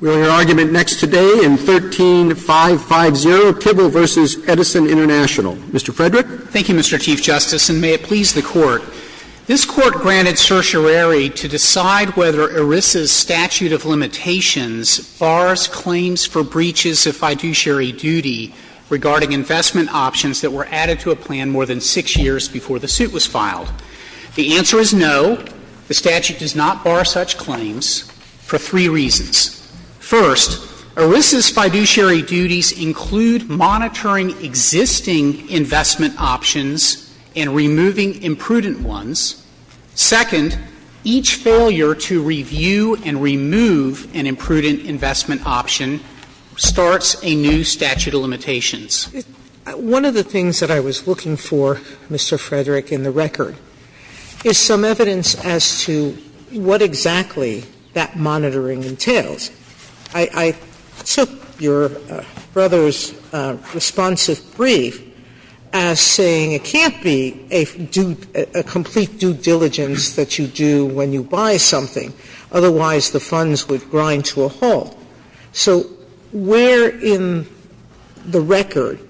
We will hear argument next today in 13-550, Tybill v. Edison Int'l. Mr. Frederick. Thank you, Mr. Chief Justice, and may it please the Court. This Court granted certiorari to decide whether ERISA's statute of limitations bars claims for breaches of fiduciary duty regarding investment options that were added to a plan more than six years before the suit was filed. The answer is no. The statute does not bar such claims for three reasons. First, ERISA's fiduciary duties include monitoring existing investment options and removing imprudent ones. Second, each failure to review and remove an imprudent investment option starts a new statute of limitations. One of the things that I was looking for, Mr. Frederick, in the record is some evidence as to what exactly that monitoring entails. I took your brother's responsive brief as saying it can't be a complete due diligence that you do when you buy something, otherwise the funds would grind to a halt. So where in the record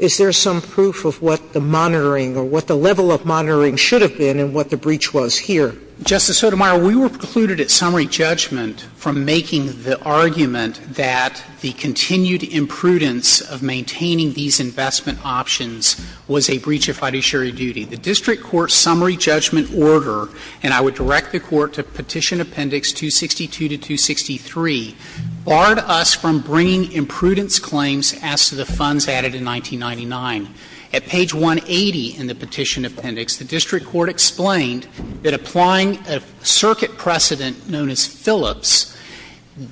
is there some proof of what the monitoring or what the level of monitoring should have been and what the breach was here? Justice Sotomayor, we were precluded at summary judgment from making the argument that the continued imprudence of maintaining these investment options was a breach of fiduciary duty. The district court's summary judgment order, and I would direct the Court to Petition Appendix 262 to 263, barred us from bringing imprudence claims as to the funds added in 1999. At page 180 in the Petition Appendix, the district court explained that applying a circuit precedent known as Phillips,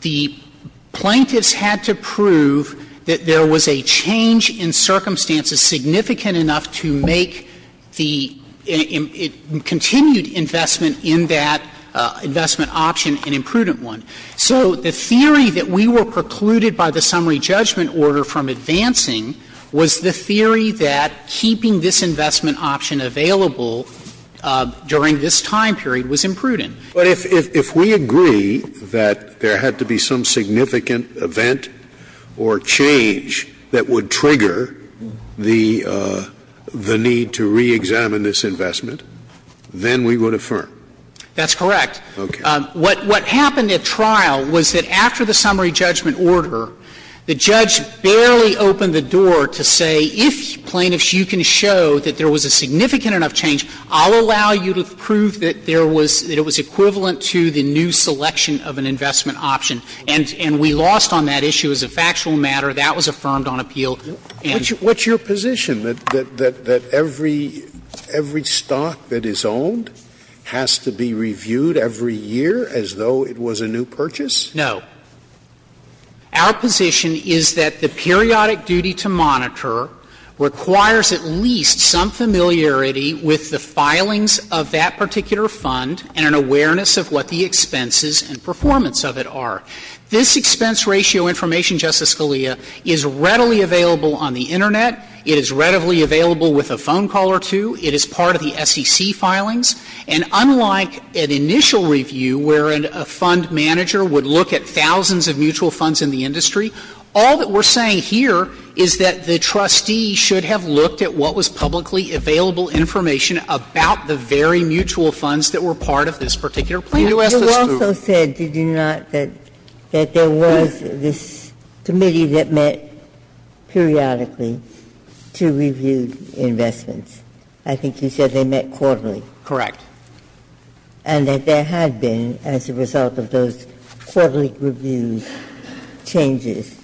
the plaintiffs had to prove that there was a change in circumstances significant enough to make the continued investment in that investment option an imprudent one. So the theory that we were precluded by the summary judgment order from advancing was the theory that keeping this investment option available during this time period was imprudent. Scalia. But if we agree that there had to be some significant event or change that would trigger the need to reexamine this investment, then we would affirm? That's correct. What happened at trial was that after the summary judgment order, the judge barely opened the door to say, if, plaintiffs, you can show that there was a significant enough change, I'll allow you to prove that there was – that it was equivalent to the new selection of an investment option. And we lost on that issue. As a factual matter, that was affirmed on appeal. And we lost on that issue. So, Mr. Sotomayor, is it true that the SCC is not required to monitor the period every year as though it was a new purchase? No. Our position is that the periodic duty to monitor requires at least some familiarity with the filings of that particular fund and an awareness of what the expenses and performance of it are. This expense ratio information, Justice Scalia, is readily available on the Internet. It is readily available with a phone call or two. It is part of the SEC filings. And unlike an initial review where a fund manager would look at thousands of mutual funds in the industry, all that we're saying here is that the trustee should have looked at what was publicly available information about the very mutual funds that were part of this particular plan. Sotomayor, you also said, did you not, that there was this committee that met periodically to review investments. I think you said they met quarterly. Correct. And that there had been, as a result of those quarterly reviews, changes.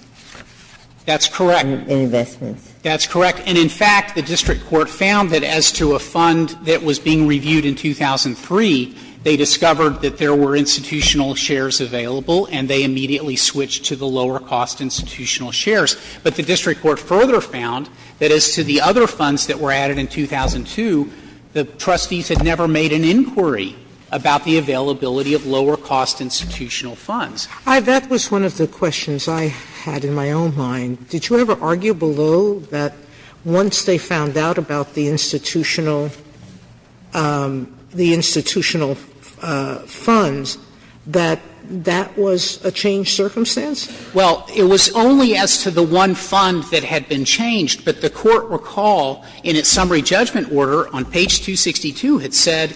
That's correct. In investments. That's correct. And, in fact, the district court found that as to a fund that was being reviewed in 2003, they discovered that there were institutional shares available and they immediately switched to the lower-cost institutional shares. But the district court further found that as to the other funds that were added in 2002, the trustees had never made an inquiry about the availability of lower-cost institutional funds. Sotomayor, that was one of the questions I had in my own mind. Did you ever argue below that once they found out about the institutional funds, that that was a changed circumstance? Well, it was only as to the one fund that had been changed, but the court recalled in its summary judgment order on page 262, it said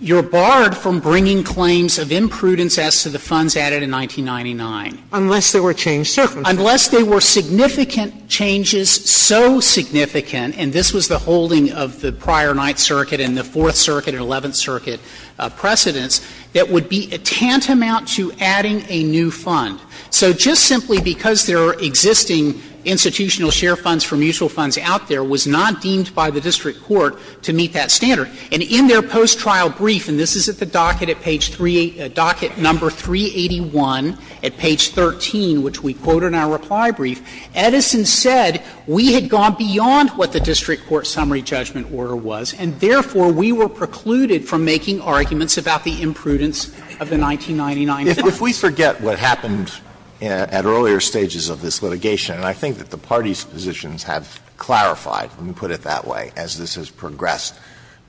you're barred from bringing claims of imprudence as to the funds added in 1999. Unless they were changed circumstances. Unless they were significant changes, so significant, and this was the holding of the prior Ninth Circuit and the Fourth Circuit and Eleventh Circuit precedents, that would be a tantamount to adding a new fund. So just simply because there are existing institutional share funds for mutual funds out there was not deemed by the district court to meet that standard. And in their post-trial brief, and this is at the docket at page 3 — docket number 381 at page 13, which we quote in our reply brief, Edison said, we had gone beyond what the district court summary judgment order was, and therefore, we were precluded from making arguments about the imprudence of the 1999 funds. If we forget what happened at earlier stages of this litigation, and I think that the parties' positions have clarified, let me put it that way, as this has progressed,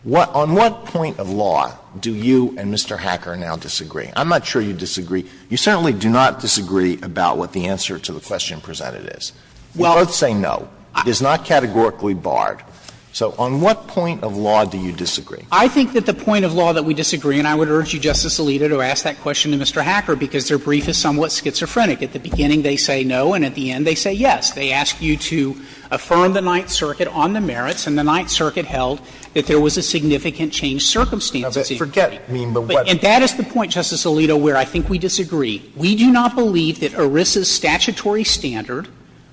on what point of law do you and Mr. Hacker now disagree? I'm not sure you disagree. You certainly do not disagree about what the answer to the question presented is. We both say no. It is not categorically barred. So on what point of law do you disagree? Frederick, I think that the point of law that we disagree, and I would urge you, Justice Alito, to ask that question to Mr. Hacker, because their brief is somewhat schizophrenic. At the beginning, they say no, and at the end, they say yes. They ask you to affirm the Ninth Circuit on the merits, and the Ninth Circuit held that there was a significant change of circumstances. Alito, forget me, but what do you think? And that is the point, Justice Alito, where I think we disagree. We do not believe that ERISA's statutory standard,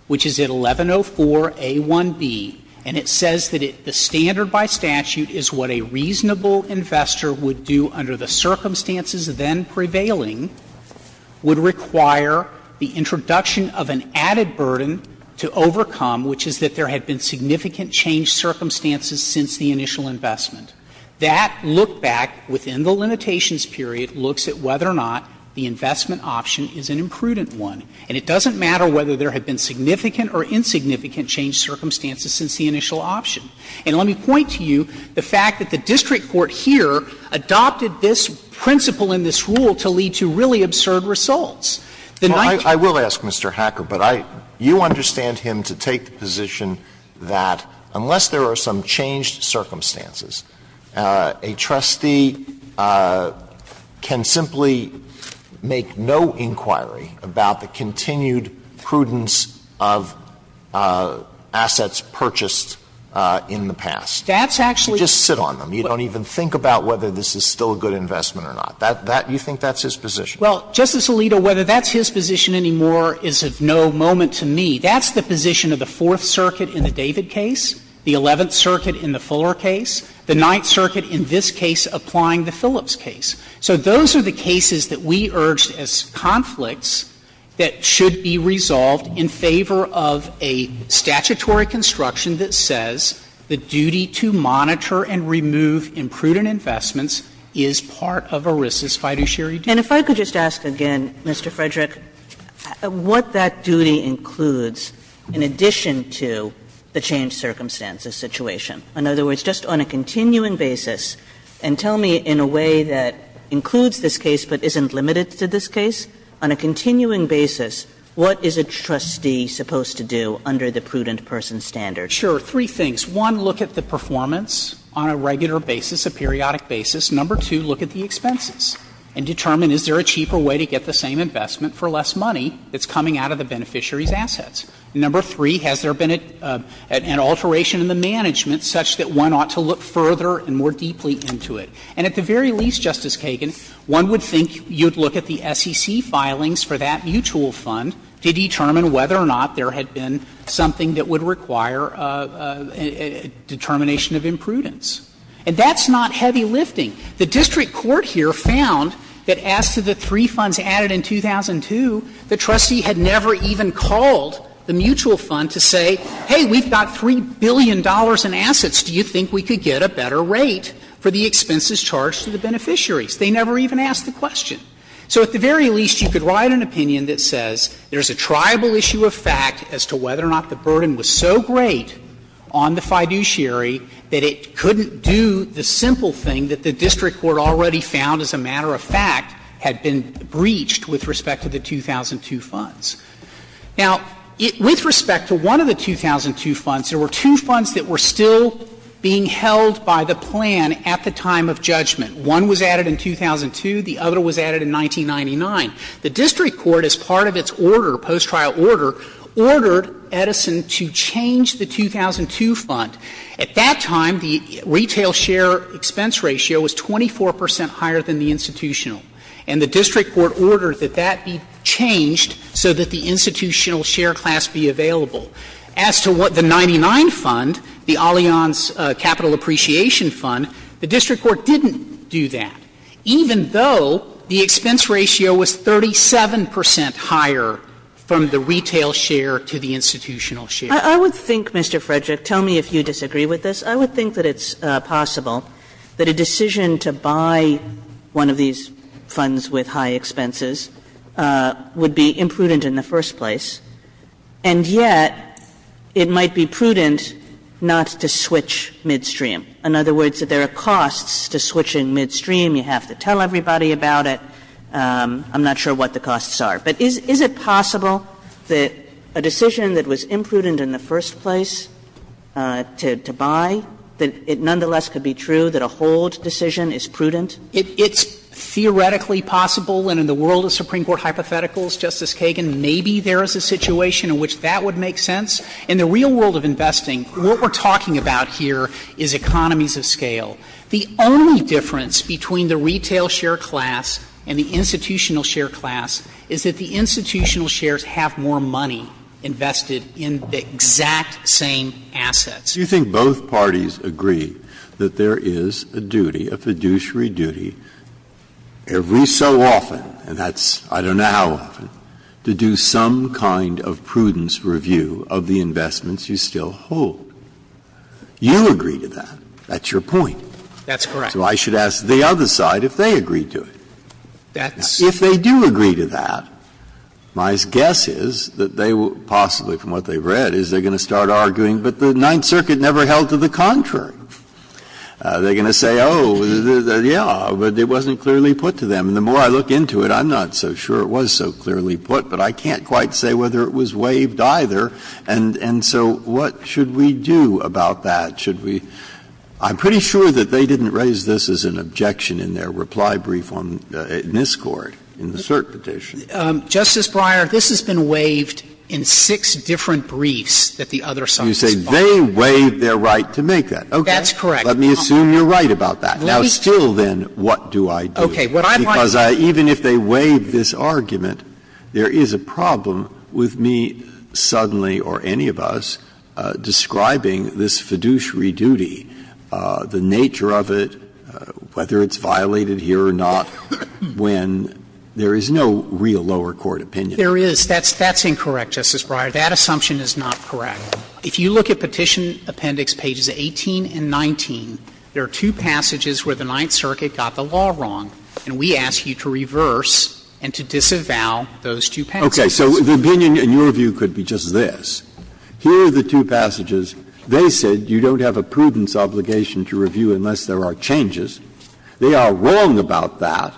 which is at 1104a1b, and it says that the standard by statute is what a reasonable investor would do under the circumstances then prevailing, would require the introduction of an added burden to overcome, which is that there had been significant change circumstances since the initial investment. That look-back within the limitations period looks at whether or not the investment option is an imprudent one. And it doesn't matter whether there had been significant or insignificant change circumstances since the initial option. And let me point to you the fact that the district court here adopted this principle in this rule to lead to really absurd results. The Ninth Circuit was not able to do that. Alito, I will ask Mr. Hacker, but I you understand him to take the position that unless there are some changed circumstances, a trustee can simply make no inquiry about the continued prudence of assets purchased in the past. That's actually the point. You just sit on them. You don't even think about whether this is still a good investment or not. That you think that's his position? Well, Justice Alito, whether that's his position anymore is of no moment to me. That's the position of the Fourth Circuit in the David case, the Eleventh Circuit in the Fuller case, the Ninth Circuit in this case applying the Phillips case. So those are the cases that we urged as conflicts that should be resolved in favor of a statutory construction that says the duty to monitor and remove imprudent investments is part of ERISA's fiduciary duty. And if I could just ask again, Mr. Frederick, what that duty includes in addition to the changed circumstances situation? In other words, just on a continuing basis, and tell me in a way that includes this case but isn't limited to this case, on a continuing basis, what is a trustee supposed to do under the prudent person standard? Sure. Three things. One, look at the performance on a regular basis, a periodic basis. Number two, look at the expenses and determine, is there a cheaper way to get the same investment for less money that's coming out of the beneficiary's assets? Number three, has there been an alteration in the management such that one ought to look further and more deeply into it? And at the very least, Justice Kagan, one would think you'd look at the SEC filings for that mutual fund to determine whether or not there had been something that would require determination of imprudence. And that's not heavy lifting. The district court here found that as to the three funds added in 2002, the trustee had never even called the mutual fund to say, hey, we've got $3 billion in assets. Do you think we could get a better rate for the expenses charged to the beneficiaries? They never even asked the question. So at the very least, you could write an opinion that says there's a triable issue of fact as to whether or not the burden was so great on the fiduciary that it couldn't do the simple thing that the district court already found as a matter of fact had been breached with respect to the 2002 funds. Now, with respect to one of the 2002 funds, there were two funds that were still being held by the plan at the time of judgment. One was added in 2002, the other was added in 1999. The district court, as part of its order, post-trial order, ordered Edison to change the 2002 fund. At that time, the retail share expense ratio was 24 percent higher than the institutional, and the district court ordered that that be changed so that the institutional share class be available. As to what the 99 fund, the Allianz Capital Appreciation Fund, the district court didn't do that, even though the expense ratio was 37 percent higher from the retail share to the institutional share. Kagan. I would think, Mr. Frederick, tell me if you disagree with this, I would think that it's possible that a decision to buy one of these funds with high expenses would be imprudent in the first place, and yet it might be prudent not to switch midstream. In other words, if there are costs to switching midstream, you have to tell everybody about it. I'm not sure what the costs are. But is it possible that a decision that was imprudent in the first place to buy, that it nonetheless could be true that a hold decision is prudent? It's theoretically possible, and in the world of Supreme Court hypotheticals, Justice Kagan, maybe there is a situation in which that would make sense. In the real world of investing, what we're talking about here is economies of scale. The only difference between the retail share class and the institutional share class is that the institutional shares have more money invested in the exact same assets. Breyer. Do you think both parties agree that there is a duty, a fiduciary duty, every so often and that's I don't know how often, to do some kind of prudence review of the investments you still hold? You agree to that. That's your point. That's correct. So I should ask the other side if they agree to it. That's correct. If they do agree to that, my guess is that they will possibly, from what they've read, is they're going to start arguing, but the Ninth Circuit never held to the contrary. They're going to say, oh, yeah, but it wasn't clearly put to them. The more I look into it, I'm not so sure it was so clearly put, but I can't quite say whether it was waived either, and so what should we do about that? Should we – I'm pretty sure that they didn't raise this as an objection in their reply brief on NISCORT, in the cert petition. Justice Breyer, this has been waived in six different briefs that the other side has filed. You say they waived their right to make that. Okay. That's correct. Let me assume you're right about that. Now, still then, what do I do? Because even if they waive this argument, there is a problem with me suddenly or any of us describing this fiduciary duty, the nature of it, whether it's violated here or not, when there is no real lower court opinion. There is. That's – that's incorrect, Justice Breyer. That assumption is not correct. If you look at Petition Appendix pages 18 and 19, there are two passages where the law is wrong, and we ask you to reverse and to disavow those two passages. Okay. So the opinion, in your view, could be just this. Here are the two passages. They said you don't have a prudence obligation to review unless there are changes. They are wrong about that.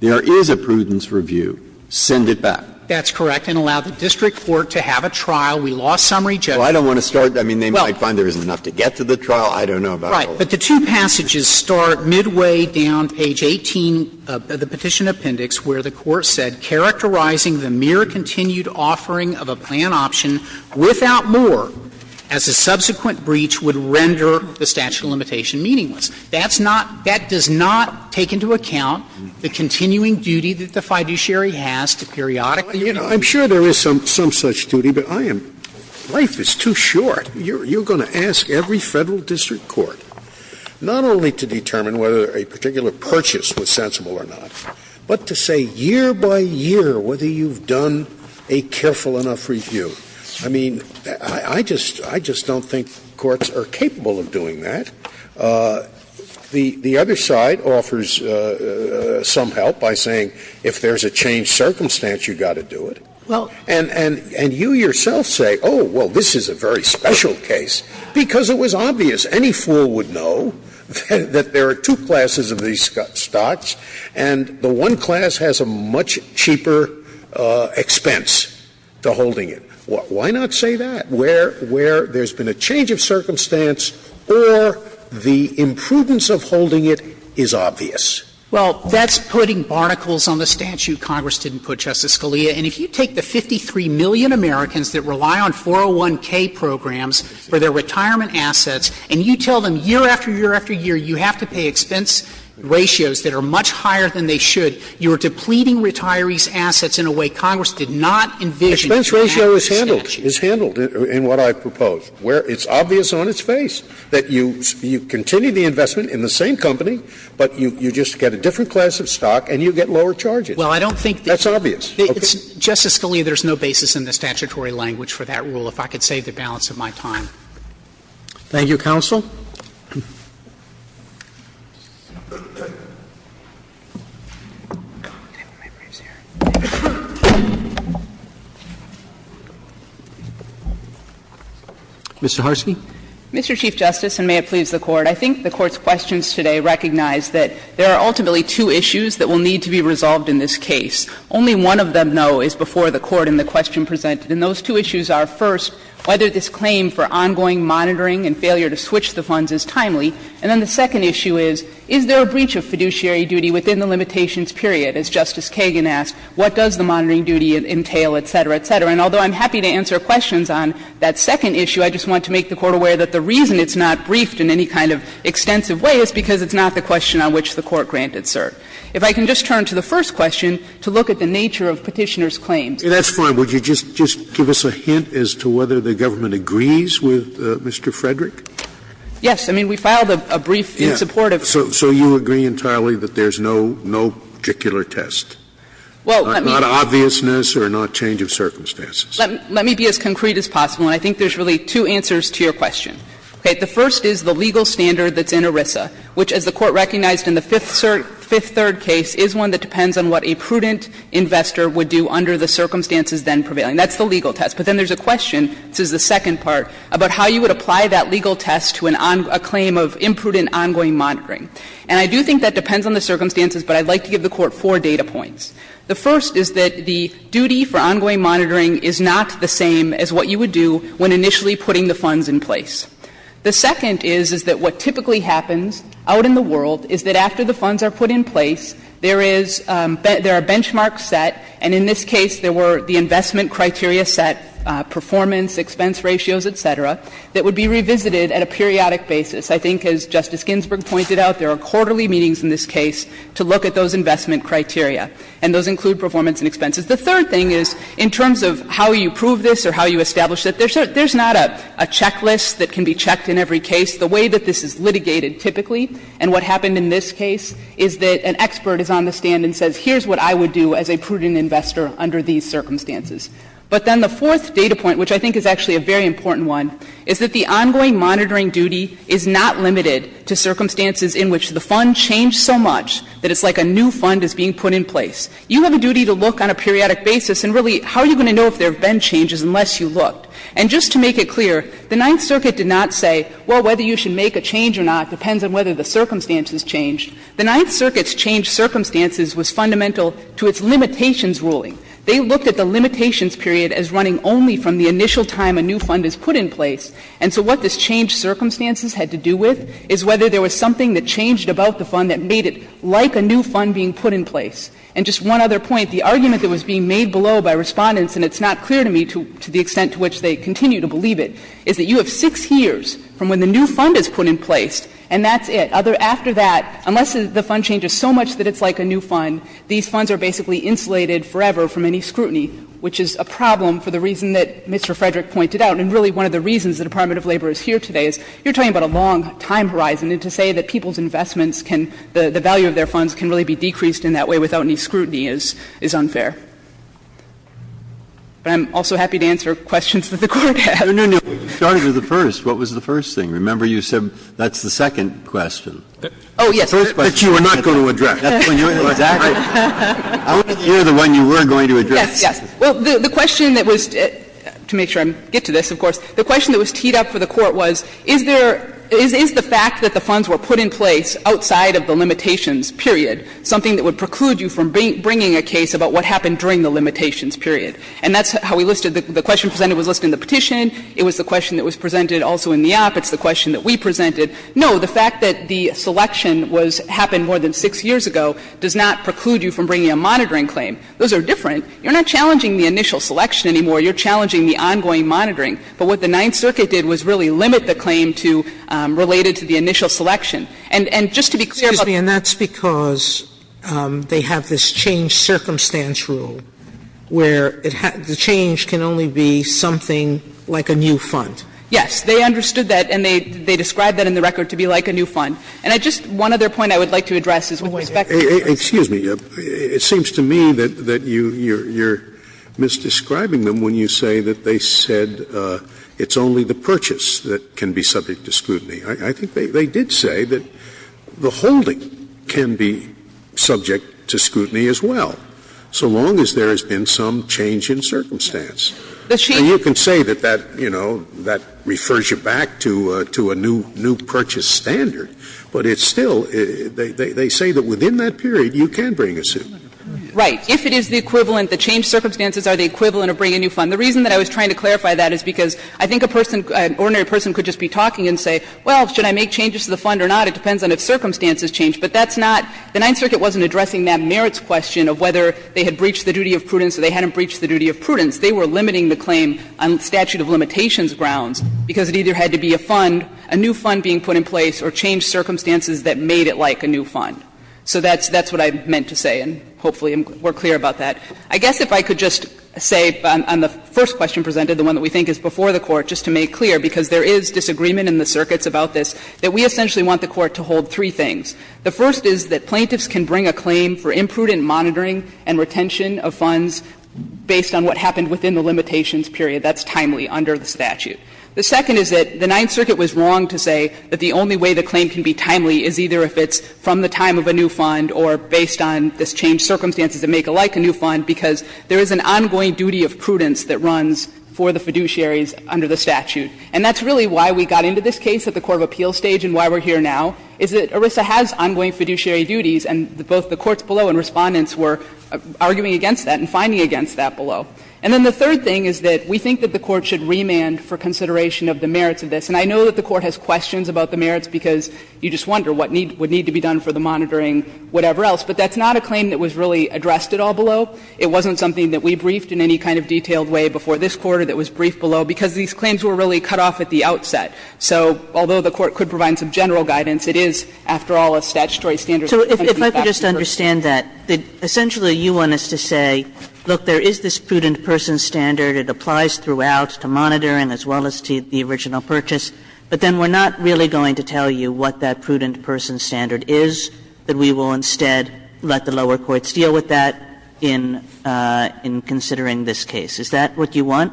There is a prudence review. Send it back. That's correct. And allow the district court to have a trial. We lost summary judgment. Well, I don't want to start. I mean, they might find there isn't enough to get to the trial. I don't know about the law. Right. But the two passages start midway down page 18 of the Petition Appendix, where the Court said, "...characterizing the mere continued offering of a plan option without more as a subsequent breach would render the statute of limitation meaningless." That's not – that does not take into account the continuing duty that the fiduciary has to periodically review. I'm sure there is some such duty, but I am – life is too short. You're going to ask every Federal district court not only to determine whether a particular purchase was sensible or not, but to say year by year whether you've done a careful enough review. I mean, I just – I just don't think courts are capable of doing that. The other side offers some help by saying if there's a changed circumstance, you've got to do it. And you yourself say, oh, well, this is a very special case, because it was obvious any fool would know that there are two classes of these stocks, and the one class has a much cheaper expense to holding it. Why not say that, where there's been a change of circumstance, or the imprudence of holding it is obvious? Well, that's putting barnacles on the statute Congress didn't put, Justice Scalia. And if you take the 53 million Americans that rely on 401K programs for their retirement assets, and you tell them year after year after year you have to pay expense ratios that are much higher than they should, you are depleting retirees' assets in a way Congress did not envision in the statute. Expense ratio is handled, is handled in what I propose, where it's obvious on its face that you continue the investment in the same company, but you just get a different class of stock and you get lower charges. Well, I don't think that's obvious. Justice Scalia, there's no basis in the statutory language for that rule. If I could save the balance of my time. Roberts. Thank you, counsel. Mr. Harsky. Mr. Chief Justice, and may it please the Court, I think the Court's questions today recognize that there are ultimately two issues that will need to be resolved in this case. Only one of them, though, is before the Court in the question presented. And those two issues are, first, whether this claim for ongoing monitoring and failure to switch the funds is timely. And then the second issue is, is there a breach of fiduciary duty within the limitations period? As Justice Kagan asked, what does the monitoring duty entail, et cetera, et cetera. And although I'm happy to answer questions on that second issue, I just want to make the Court aware that the reason it's not briefed in any kind of extensive way is because it's not the question on which the Court granted cert. If I can just turn to the first question to look at the nature of Petitioner's claims. Scalia That's fine. Would you just give us a hint as to whether the government agrees with Mr. Frederick? Yes. I mean, we filed a brief in support of him. Scalia So you agree entirely that there's no particular test? Not obviousness or not change of circumstances? Let me be as concrete as possible, and I think there's really two answers to your question. Okay. The first is the legal standard that's in ERISA, which, as the Court recognized in the fifth third case, is one that depends on what a prudent investor would do under the circumstances then prevailing. That's the legal test. But then there's a question, this is the second part, about how you would apply that legal test to a claim of imprudent ongoing monitoring. And I do think that depends on the circumstances, but I'd like to give the Court four data points. The first is that the duty for ongoing monitoring is not the same as what you would do when initially putting the funds in place. The second is, is that what typically happens out in the world is that after the funds are put in place, there is — there are benchmarks set, and in this case, there were the investment criteria set, performance, expense ratios, et cetera, that would be revisited at a periodic basis. I think, as Justice Ginsburg pointed out, there are quarterly meetings in this case to look at those investment criteria, and those include performance and expenses. The third thing is, in terms of how you prove this or how you establish it, there's not a checklist that can be checked in every case. The way that this is litigated typically, and what happened in this case, is that an expert is on the stand and says, here's what I would do as a prudent investor under these circumstances. But then the fourth data point, which I think is actually a very important one, is that the ongoing monitoring duty is not limited to circumstances in which the fund changed so much that it's like a new fund is being put in place. You have a duty to look on a periodic basis, and really, how are you going to know if there have been changes unless you looked? And just to make it clear, the Ninth Circuit did not say, well, whether you should make a change or not depends on whether the circumstances changed. The Ninth Circuit's changed circumstances was fundamental to its limitations ruling. They looked at the limitations period as running only from the initial time a new fund is put in place. And so what this changed circumstances had to do with is whether there was something that changed about the fund that made it like a new fund being put in place. And just one other point, the argument that was being made below by Respondents and it's not clear to me to the extent to which they continue to believe it, is that you have six years from when the new fund is put in place and that's it. After that, unless the fund changes so much that it's like a new fund, these funds are basically insulated forever from any scrutiny, which is a problem for the reason that Mr. Frederick pointed out. And really, one of the reasons the Department of Labor is here today is you're talking about a long time horizon. And to say that people's investments can, the value of their funds can really be decreased in that way without any scrutiny is unfair. But I'm also happy to answer questions that the Court has. Breyer. No, no, no. You started with the first. What was the first thing? Remember, you said that's the second question. Oh, yes. The first question. That you were not going to address. That's when you were going to address. Exactly. I want to hear the one you were going to address. Yes, yes. Well, the question that was, to make sure I get to this, of course, the question that was teed up for the Court was, is there, is the fact that the funds were put in place outside of the limitations, period, something that would preclude you from bringing a case about what happened during the limitations, period? And that's how we listed, the question presented was listed in the petition. It was the question that was presented also in the op. It's the question that we presented. No, the fact that the selection was, happened more than six years ago does not preclude you from bringing a monitoring claim. Those are different. You're not challenging the initial selection anymore. You're challenging the ongoing monitoring. But what the Ninth Circuit did was really limit the claim to, related to the initial selection. And just to be clear about the And that's because they have this change circumstance rule where it has, the change can only be something like a new fund. Yes. They understood that and they described that in the record to be like a new fund. And I just, one other point I would like to address is with respect to this. Excuse me. It seems to me that you're misdescribing them when you say that they said it's only the purchase that can be subject to scrutiny. I think they did say that the holding can be subject to scrutiny as well, so long as there has been some change in circumstance. And you can say that that, you know, that refers you back to a new purchase standard, but it's still, they say that within that period you can bring a suit. Right. If it is the equivalent, the change circumstances are the equivalent of bringing a new fund. The reason that I was trying to clarify that is because I think a person, an ordinary person could just be talking and say, well, should I make changes to the fund or not? It depends on if circumstances change. But that's not, the Ninth Circuit wasn't addressing that merits question of whether they had breached the duty of prudence or they hadn't breached the duty of prudence. They were limiting the claim on statute of limitations grounds, because it either had to be a fund, a new fund being put in place, or change circumstances that made it like a new fund. So that's what I meant to say, and hopefully we're clear about that. I guess if I could just say on the first question presented, the one that we think is before the Court, just to make clear, because there is disagreement in the circuits about this, that we essentially want the Court to hold three things. The first is that plaintiffs can bring a claim for imprudent monitoring and retention of funds based on what happened within the limitations period. That's timely under the statute. The second is that the Ninth Circuit was wrong to say that the only way the claim can be timely is either if it's from the time of a new fund or based on this change circumstances that make it like a new fund, because there is an ongoing duty of prudence that runs for the fiduciaries under the statute. And that's really why we got into this case at the court of appeals stage and why we're here now, is that ERISA has ongoing fiduciary duties, and both the courts below and Respondents were arguing against that and finding against that below. And then the third thing is that we think that the Court should remand for consideration of the merits of this. And I know that the Court has questions about the merits, because you just wonder what would need to be done for the monitoring, whatever else. But that's not a claim that was really addressed at all below. It wasn't something that we briefed in any kind of detailed way before this Court or that was briefed below, because these claims were really cut off at the outset. So although the Court could provide some general guidance, it is, after all, a statutory standard. So if I could just understand that, essentially you want us to say, look, there is this prudent person standard, it applies throughout to monitoring as well as to the original purchase, but then we're not really going to tell you what that prudent person standard is, that we will instead let the lower courts deal with that in the And that's what we're going to do in considering this case. Is that what you want?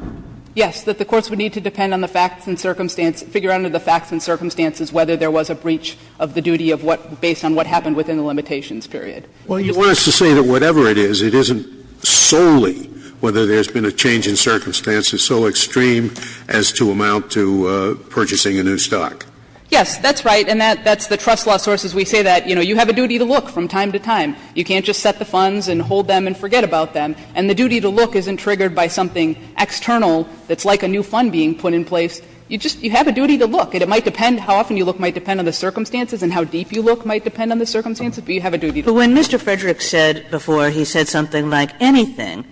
Yes, that the courts would need to depend on the facts and circumstances to figure out under the facts and circumstances whether there was a breach of the duty of what, based on what happened within the limitations period. Well, you want us to say that whatever it is, it isn't solely whether there has been a change in circumstances so extreme as to amount to purchasing a new stock. Yes, that's right, and that's the trust law source as we say that. You know, you have a duty to look from time to time. You can't just set the funds and hold them and forget about them. And the duty to look isn't triggered by something external that's like a new fund being put in place. You just you have a duty to look. And it might depend how often you look might depend on the circumstances and how deep you look might depend on the circumstances, but you have a duty to look. But when Mr. Frederick said before, he said something like anything,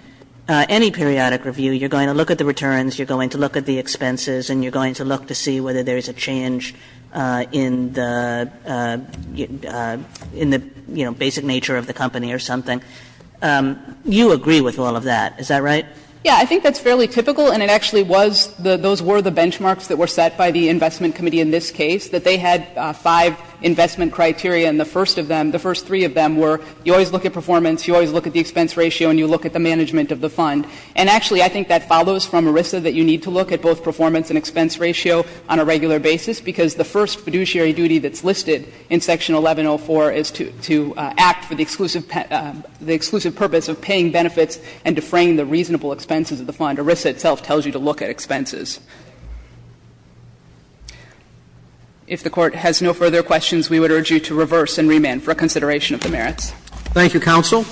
any periodic review, you're going to look at the returns, you're going to look at the expenses, and you're going to look to see whether there is a change in the, you know, basic nature of the company or something. You agree with all of that, is that right? Yeah, I think that's fairly typical, and it actually was, those were the benchmarks that were set by the Investment Committee in this case, that they had five investment criteria, and the first of them, the first three of them were you always look at performance, you always look at the expense ratio, and you look at the management of the fund. And actually, I think that follows from ERISA, that you need to look at both performance and expense ratio on a regular basis, because the first fiduciary duty that's listed in Section 1104 is to act for the exclusive purpose of paying benefits and defraying the reasonable expenses of the fund. ERISA itself tells you to look at expenses. If the Court has no further questions, we would urge you to reverse and remand for consideration of the merits. Thank you, counsel.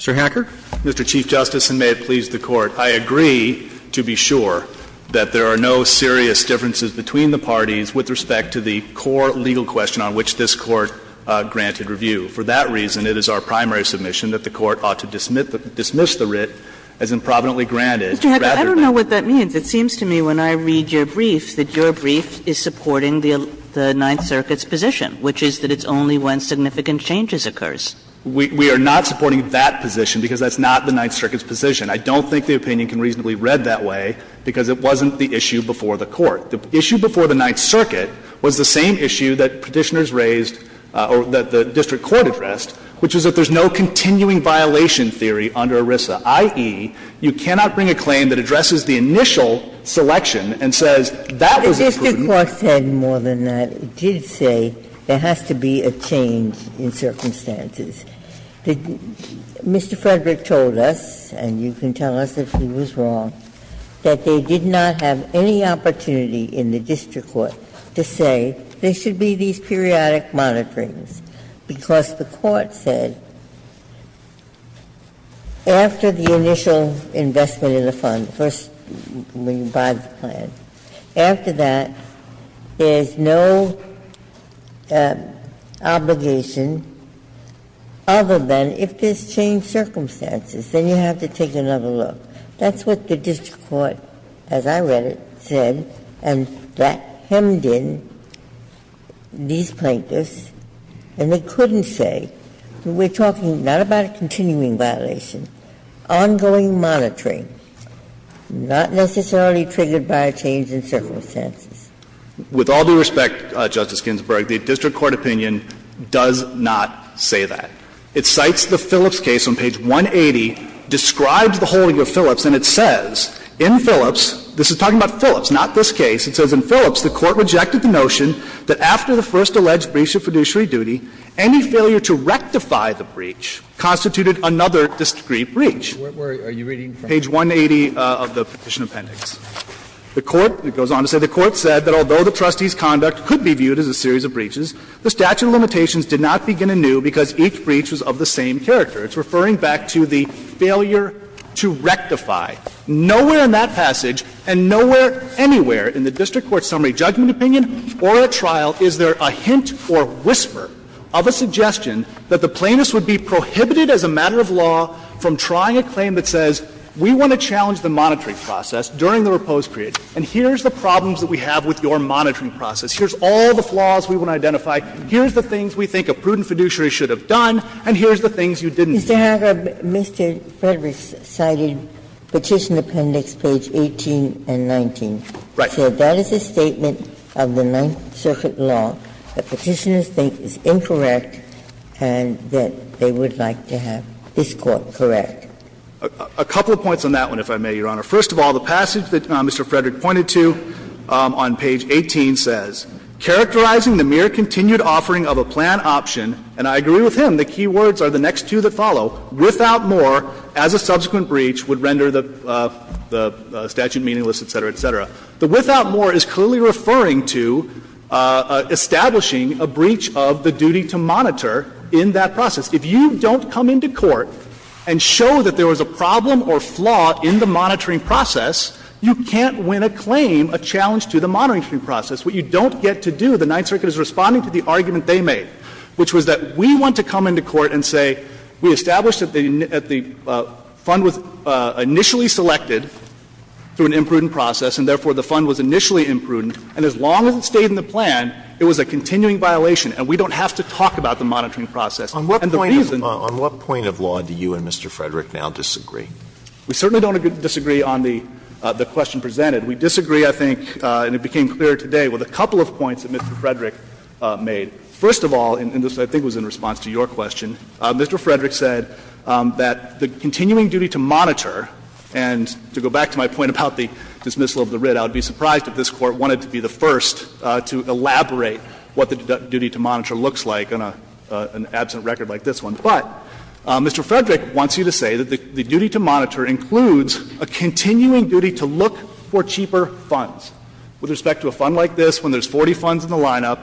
Mr. Hacker. Mr. Chief Justice, and may it please the Court, I agree to be sure that there are no serious differences between the parties with respect to the core legal question on which this Court granted review. For that reason, it is our primary submission that the Court ought to dismiss the writ as improvidently granted, rather than. I don't know what that means. It seems to me when I read your brief that your brief is supporting the Ninth Circuit's position, which is that it's only when significant changes occurs. We are not supporting that position, because that's not the Ninth Circuit's position. I don't think the opinion can reasonably read that way, because it wasn't the issue before the Court. The issue before the Ninth Circuit was the same issue that Petitioners raised or that the district court addressed, which is that there's no continuing violation theory under ERISA, i.e., you cannot bring a claim that addresses the initial selection and says that was imprudent. The district court said more than that. It did say there has to be a change in circumstances. Mr. Frederick told us, and you can tell us if he was wrong, that they did not have any opportunity in the district court to say there should be these periodic monitorings, because the court said after the initial investment in the fund, first when you buy the plan, after that, there's no obligation other than if there's changed circumstances, then you have to take another look. That's what the district court, as I read it, said, and that hemmed in these plaintiffs, and they couldn't say, we're talking not about a continuing violation, ongoing monitoring, not necessarily triggered by a change in circumstances. With all due respect, Justice Ginsburg, the district court opinion does not say that. It cites the Phillips case on page 180, describes the holding of Phillips, and it says in Phillips, this is talking about Phillips, not this case, it says in Phillips, the court rejected the notion that after the first alleged breach of fiduciary duty, any failure to rectify the breach constituted another discrete breach. Page 180 of the petition appendix. The court, it goes on to say the court said that although the trustee's conduct could be viewed as a series of breaches, the statute of limitations did not begin to renew because each breach was of the same character. It's referring back to the failure to rectify. Nowhere in that passage, and nowhere anywhere in the district court summary judgment opinion or at trial is there a hint or whisper of a suggestion that the plaintiffs would be prohibited as a matter of law from trying a claim that says we want to challenge the monitoring process during the repose period, and here's the problems that we have with your monitoring process, here's all the flaws we want to identify, here's the things we think a prudent fiduciary should have done, and here's the things you didn't do. Ginsburg. Mr. Frederick cited Petition Appendix page 18 and 19. Right. So that is a statement of the Ninth Circuit law that Petitioners think is incorrect and that they would like to have this court correct. A couple of points on that one, if I may, Your Honor. First of all, the passage that Mr. Frederick pointed to on page 18 says, characterizing the mere continued offering of a plan option, and I agree with him, the key words are the next two that follow, without more, as a subsequent breach would render the statute meaningless, et cetera, et cetera. The without more is clearly referring to establishing a breach of the duty to monitor in that process. If you don't come into court and show that there was a problem or flaw in the monitoring process, you can't win a claim, a challenge to the monitoring process. What you don't get to do, the Ninth Circuit is responding to the argument they made, which was that we want to come into court and say we established that the fund was initially selected through an imprudent process, and therefore the fund was initially imprudent, and as long as it stayed in the plan, it was a continuing violation, and we don't have to talk about the monitoring process. And the reason the reason. Alito On what point of law do you and Mr. Frederick now disagree? We certainly don't disagree on the question presented. We disagree, I think, and it became clear today with a couple of points that Mr. Frederick made. First of all, and this I think was in response to your question, Mr. Frederick said that the continuing duty to monitor, and to go back to my point about the dismissal of the writ, I would be surprised if this Court wanted to be the first to elaborate what the duty to monitor looks like on an absent record like this one. But Mr. Frederick wants you to say that the duty to monitor includes a continuing duty to look for cheaper funds. With respect to a fund like this, when there's 40 funds in the lineup,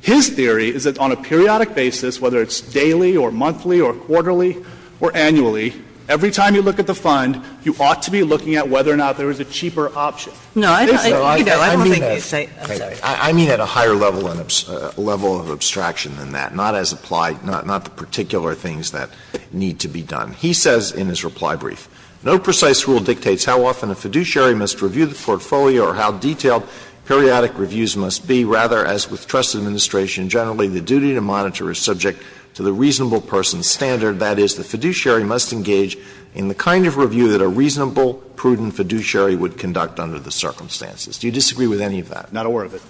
his theory is that on a periodic basis, whether it's daily or monthly or quarterly or annually, every time you look at the fund, you ought to be looking at whether or not there is a cheaper option. Kagan No, I don't think he's saying that. Alito I mean at a higher level of abstraction than that, not as applied, not the particular things that need to be done. He says in his reply brief, "...no precise rule dictates how often a fiduciary must review the portfolio or how detailed periodic reviews must be. Rather, as with trust administration generally, the duty to monitor is subject to the reasonable person's standard. That is, the fiduciary must engage in the kind of review that a reasonable, prudent fiduciary would conduct under the circumstances." Do you disagree with any of that? Roberts Not aware of it.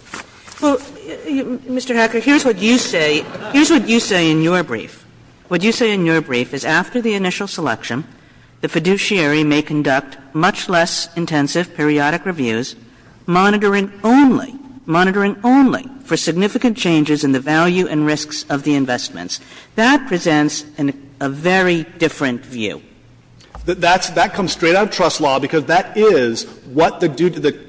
Kagan Well, Mr. Hacker, here's what you say. Here's what you say in your brief. What you say in your brief is after the initial selection, the fiduciary may conduct much less intensive periodic reviews, monitoring only, monitoring only for significant changes in the value and risks of the investments. That presents a very different view. Hacker That comes straight out of trust law, because that is what the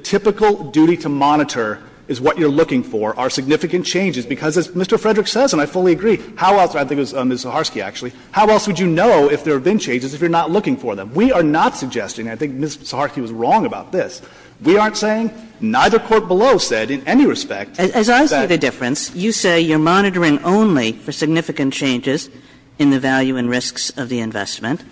typical duty to monitor is what you're looking for are significant changes. Because as Mr. Frederick says, and I fully agree, how else, I think it was Ms. Zaharsky actually, how else would you know if there have been changes if you're not looking for them? We are not suggesting, and I think Ms. Zaharsky was wrong about this, we aren't saying, neither court below said in any respect that. Kagan As I see the difference, you say you're monitoring only for significant changes in the value and risks of the investment,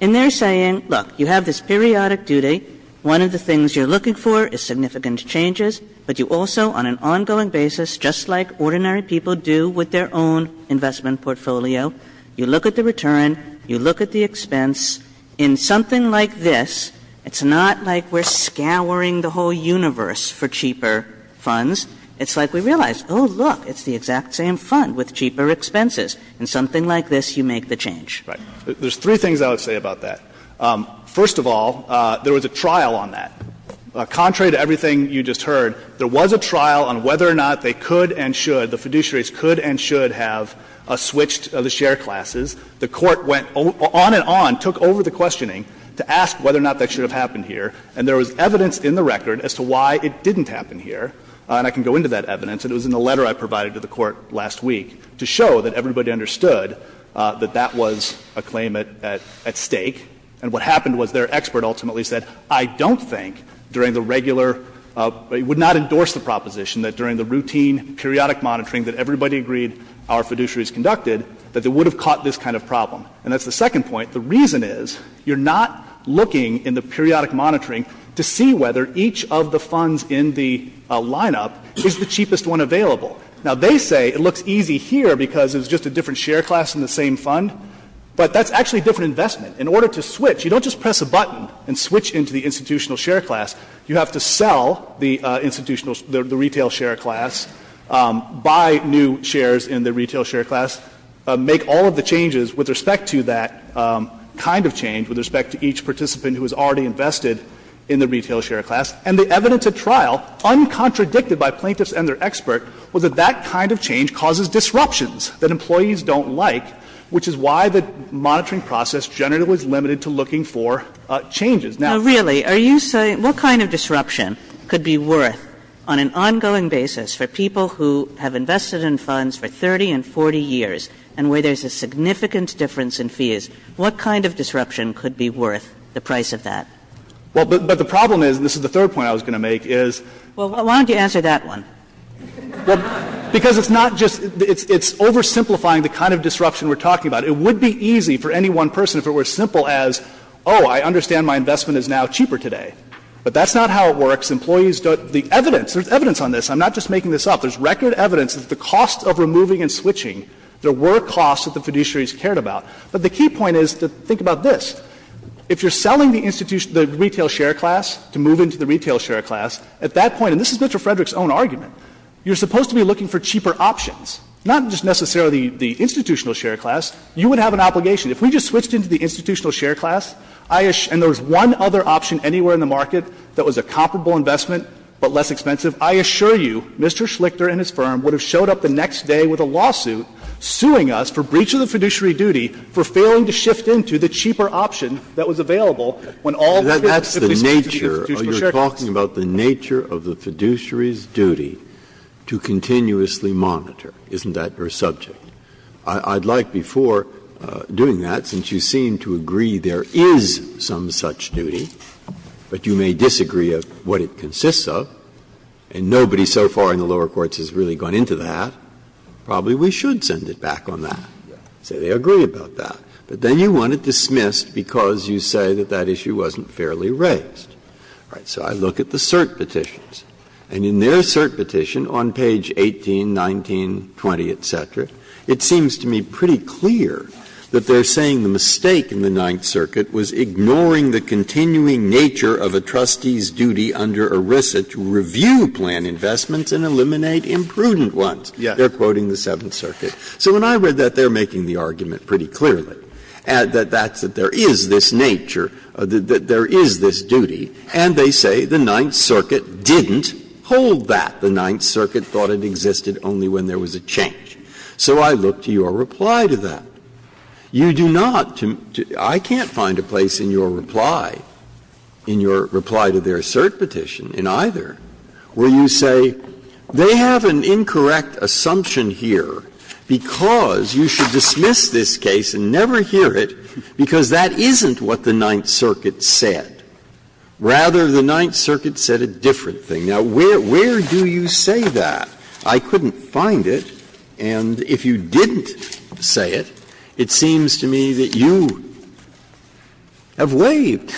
and they're saying, look, you have this periodic duty, one of the things you're looking for is significant changes, but you also, on an ongoing basis, just like ordinary people do with their own investment portfolio, you look at the return, you look at the expense, in something like this, it's not like we're scouring the whole universe for cheaper funds. It's like we realize, oh, look, it's the exact same fund with cheaper expenses. In something like this, you make the change. Hacker Right. There's three things I would say about that. First of all, there was a trial on that. Contrary to everything you just heard, there was a trial on whether or not they could and should, the fiduciaries could and should have switched the share classes. The Court went on and on, took over the questioning to ask whether or not that should have happened here, and there was evidence in the record as to why it didn't happen here, and I can go into that evidence, and it was in the letter I provided to the Court last week, to show that everybody understood that that was a claim at stake, and what happened was their expert ultimately said, I don't think Director would not endorse the proposition that during the routine, periodic monitoring that everybody agreed our fiduciaries conducted, that they would have caught this kind of problem. And that's the second point. The reason is, you're not looking in the periodic monitoring to see whether each of the funds in the lineup is the cheapest one available. Now, they say it looks easy here because it's just a different share class in the same fund, but that's actually a different investment. In order to switch, you don't just press a button and switch into the institutional share class. You have to sell the institutional, the retail share class, buy new shares in the retail share class, make all of the changes with respect to that kind of change, with respect to each participant who has already invested in the retail share class. And the evidence at trial, uncontradicted by plaintiffs and their expert, was that that kind of change causes disruptions that employees don't like, which is why the monitoring process generally is limited to looking for changes. Now, really, are you saying, what kind of disruption could be worth, on an ongoing basis, for people who have invested in funds for 30 and 40 years, and where there's a significant difference in fees, what kind of disruption could be worth the price of that? Well, but the problem is, and this is the third point I was going to make, is why don't you answer that one? Because it's not just, it's oversimplifying the kind of disruption we're talking about. It would be easy for any one person if it were simple as, oh, I understand my investment is now cheaper today. But that's not how it works. Employees don't, the evidence, there's evidence on this. I'm not just making this up. There's record evidence that at the cost of removing and switching, there were costs that the fiduciaries cared about. But the key point is to think about this. If you're selling the institution, the retail share class, to move into the retail share class, at that point, and this is Mr. Frederick's own argument, you're supposed to be looking for cheaper options, not just necessarily the institutional share class. You would have an obligation. If we just switched into the institutional share class, and there was one other option anywhere in the market that was a comparable investment but less expensive, I assure you Mr. Schlichter and his firm would have showed up the next day with a lawsuit suing us for breach of the fiduciary duty for failing to shift into the cheaper option that was available when all the fiduciaries switched to the institutional share class. Breyer, you're talking about the nature of the fiduciary's duty to continuously monitor, isn't that your subject? I'd like before doing that, since you seem to agree there is some such duty, but you may disagree of what it consists of, and nobody so far in the lower courts has really gone into that, probably we should send it back on that, say they agree about that. But then you want it dismissed because you say that that issue wasn't fairly raised. All right. So I look at the cert petitions, and in their cert petition on page 18, 19, 20, etc., it seems to me pretty clear that they are saying the mistake in the Ninth Circuit was ignoring the continuing nature of a trustee's duty under ERISA to review plan investments and eliminate imprudent ones. They are quoting the Seventh Circuit. So when I read that, they are making the argument pretty clearly, that there is this nature, that there is this duty, and they say the Ninth Circuit didn't hold that. The Ninth Circuit thought it existed only when there was a change. So I look to your reply to that. You do not to me to – I can't find a place in your reply, in your reply to their cert petition in either, where you say they have an incorrect assumption here because you should dismiss this case and never hear it because that isn't what the Ninth Circuit said. Rather, the Ninth Circuit said a different thing. Now, where do you say that? I couldn't find it, and if you didn't say it, it seems to me that you have waived,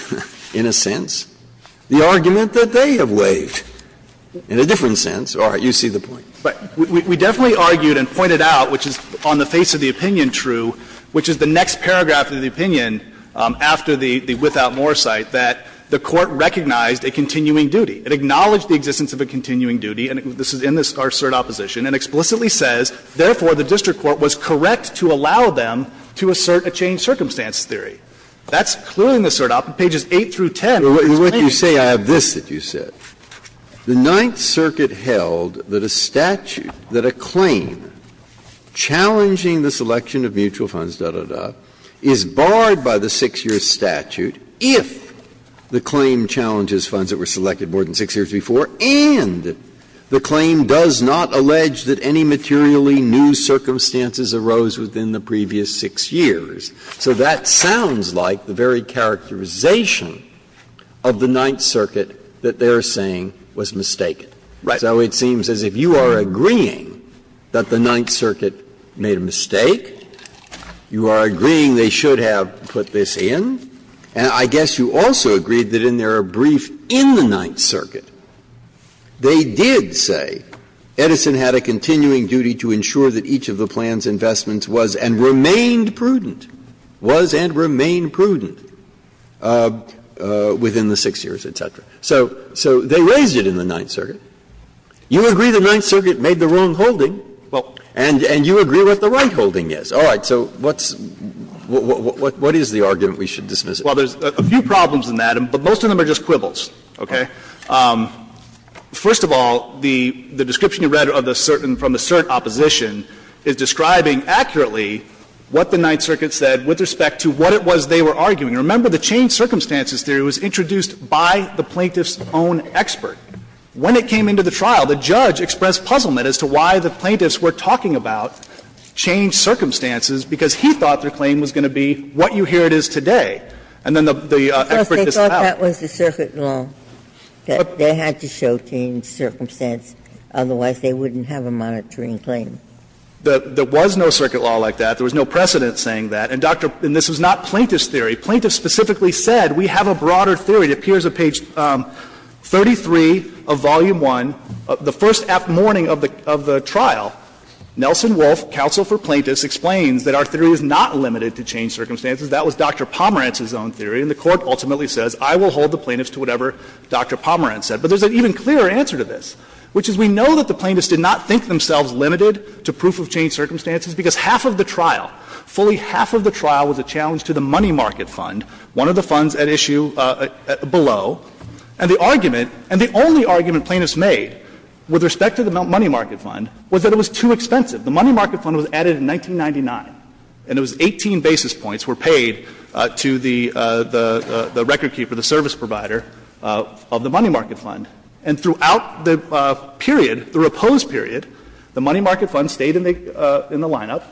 in a sense, the argument that they have waived, in a different sense. All right. You see the point. But we definitely argued and pointed out, which is on the face of the opinion true, which is the next paragraph of the opinion after the without more cite, that the Court recognized a continuing duty. It acknowledged the existence of a continuing duty, and this is in our cert opposition, and explicitly says, therefore, the district court was correct to allow them to assert a changed circumstance theory. That's clearly in the cert opposition, pages 8 through 10 of this claim. Breyer, what you say, I have this that you said. The Ninth Circuit held that a statute, that a claim challenging the selection of mutual funds, da, da, da, is barred by the 6-year statute if the claim challenges funds that were selected more than 6 years before, and the claim does not allege that any materially new circumstances arose within the previous 6 years. So that sounds like the very characterization of the Ninth Circuit that they are saying was mistaken. Right. So it seems as if you are agreeing that the Ninth Circuit made a mistake, you are agreeing they should have put this in, and I guess you also agreed that in their brief in the Ninth Circuit, they did say Edison had a continuing duty to ensure that each of the plan's investments was and remained prudent, was and remained prudent within the 6 years, et cetera. So they raised it in the Ninth Circuit. You agree the Ninth Circuit made the wrong holding, and you agree what the right holding is. All right. So what's the argument we should dismiss it? Well, there's a few problems in that, but most of them are just quibbles, okay? First of all, the description you read from the certain opposition is describing accurately what the Ninth Circuit said with respect to what it was they were arguing. Remember, the changed circumstances theory was introduced by the plaintiff's own expert. When it came into the trial, the judge expressed puzzlement as to why the plaintiffs were talking about changed circumstances, because he thought their claim was going to be what you hear it is today. And then the expert disavowed it. They thought that was the circuit law, that they had to show changed circumstance, otherwise they wouldn't have a monitoring claim. There was no circuit law like that. There was no precedent saying that. And, Dr. --" and this was not plaintiff's theory. Plaintiff specifically said, we have a broader theory. It appears on page 33 of Volume I, the first morning of the trial, Nelson Wolfe, counsel for plaintiffs, explains that our theory is not limited to changed circumstances. That was Dr. Pomerantz's own theory, and the Court ultimately says, I will hold the plaintiffs to whatever Dr. Pomerantz said. But there's an even clearer answer to this, which is we know that the plaintiffs did not think themselves limited to proof of changed circumstances, because half of the trial, fully half of the trial, was a challenge to the money market fund, one of the funds at issue below. And the argument, and the only argument plaintiffs made with respect to the money market fund was that it was too expensive. The money market fund was added in 1999, and it was 18 basis points were paid. And it was paid to the record keeper, the service provider of the money market fund. And throughout the period, the reposed period, the money market fund stayed in the lineup.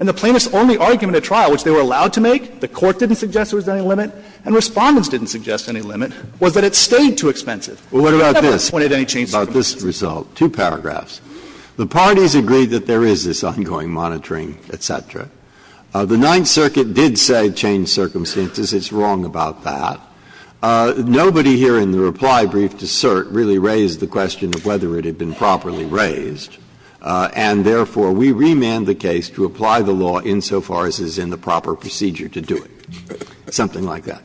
And the plaintiffs' only argument at trial, which they were allowed to make, the Court didn't suggest there was any limit, and Respondents didn't suggest any limit, was that it stayed too expensive. Breyer, never pointed any changed circumstances. Breyer, about this result, two paragraphs. The parties agreed that there is this ongoing monitoring, et cetera. The Ninth Circuit did say changed circumstances. It's wrong about that. Nobody here in the reply brief to cert really raised the question of whether it had been properly raised. And therefore, we remand the case to apply the law insofar as it's in the proper procedure to do it, something like that.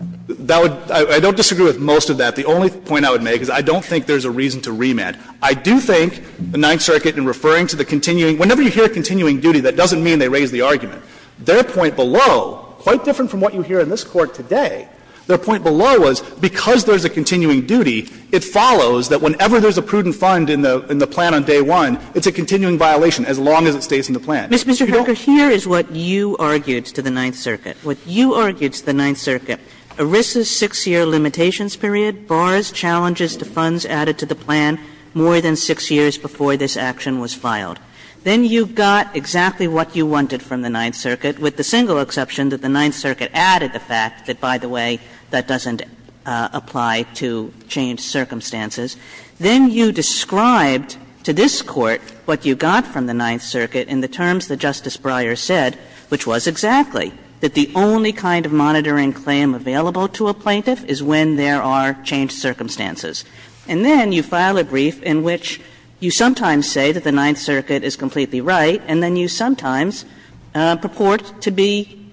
I don't disagree with most of that. The only point I would make is I don't think there's a reason to remand. I do think the Ninth Circuit, in referring to the continuing, whenever you hear continuing duty, that doesn't mean they raised the argument. Their point below, quite different from what you hear in this Court today, their point below was because there's a continuing duty, it follows that whenever there's a prudent fund in the plan on day one, it's a continuing violation as long as it stays Kagan you don't? Kagan Mr. Hacker, here is what you argued to the Ninth Circuit. What you argued to the Ninth Circuit, ERISA's 6-year limitations period bars challenges to funds added to the plan more than 6 years before this action was filed. Then you got exactly what you wanted from the Ninth Circuit, with the single exception that the Ninth Circuit added the fact that, by the way, that doesn't apply to changed circumstances. Then you described to this Court what you got from the Ninth Circuit in the terms that Justice Breyer said, which was exactly, that the only kind of monitoring claim available to a plaintiff is when there are changed circumstances. And then you file a brief in which you sometimes say that the Ninth Circuit is completely right, and then you sometimes purport to be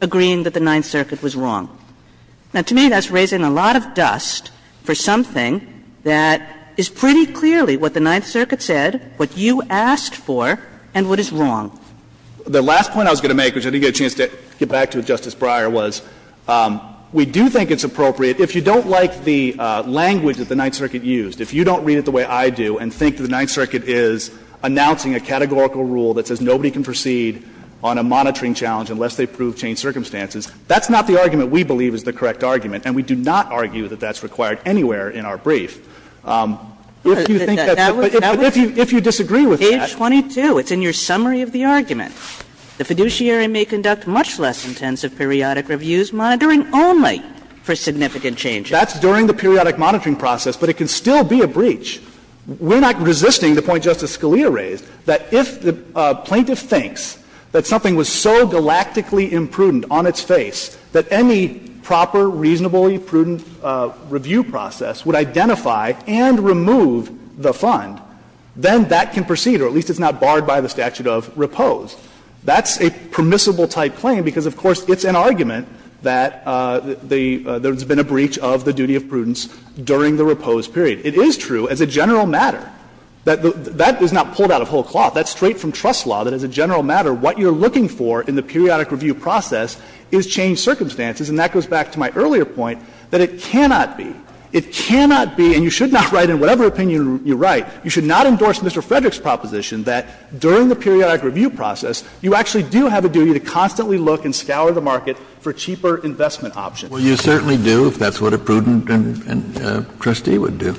agreeing that the Ninth Circuit was wrong. Now, to me, that's raising a lot of dust for something that is pretty clearly what the Ninth Circuit said, what you asked for, and what is wrong. Hacker The last point I was going to make, which I didn't get a chance to get back to with Justice Breyer, was we do think it's appropriate. If you don't like the language that the Ninth Circuit used, if you don't read it the way I do and think the Ninth Circuit is announcing a categorical rule that says nobody can proceed on a monitoring challenge unless they prove changed circumstances, that's not the argument we believe is the correct argument, and we do not argue that that's required anywhere in our brief. If you think that's it, but if you disagree with that. Page 22, it's in your summary of the argument. The fiduciary may conduct much less intensive periodic reviews, monitoring only for significant changes. Hacker That's during the periodic monitoring process, but it can still be a breach. We're not resisting the point Justice Scalia raised, that if the plaintiff thinks that something was so galactically imprudent on its face that any proper, reasonably prudent review process would identify and remove the fund, then that can proceed, or at least it's not barred by the statute of repose. That's a permissible-type claim because, of course, it's an argument that the — there's been a breach of the duty of prudence during the repose period. It is true, as a general matter, that that is not pulled out of whole cloth. That's straight from trust law, that as a general matter, what you're looking for in the periodic review process is changed circumstances, and that goes back to my earlier point, that it cannot be. It cannot be, and you should not write in whatever opinion you write, you should not endorse Mr. Frederick's proposition that during the periodic review process, you actually do have a duty to constantly look and scour the market for cheaper investment options. Kennedy, you certainly do, if that's what a prudent trustee would do.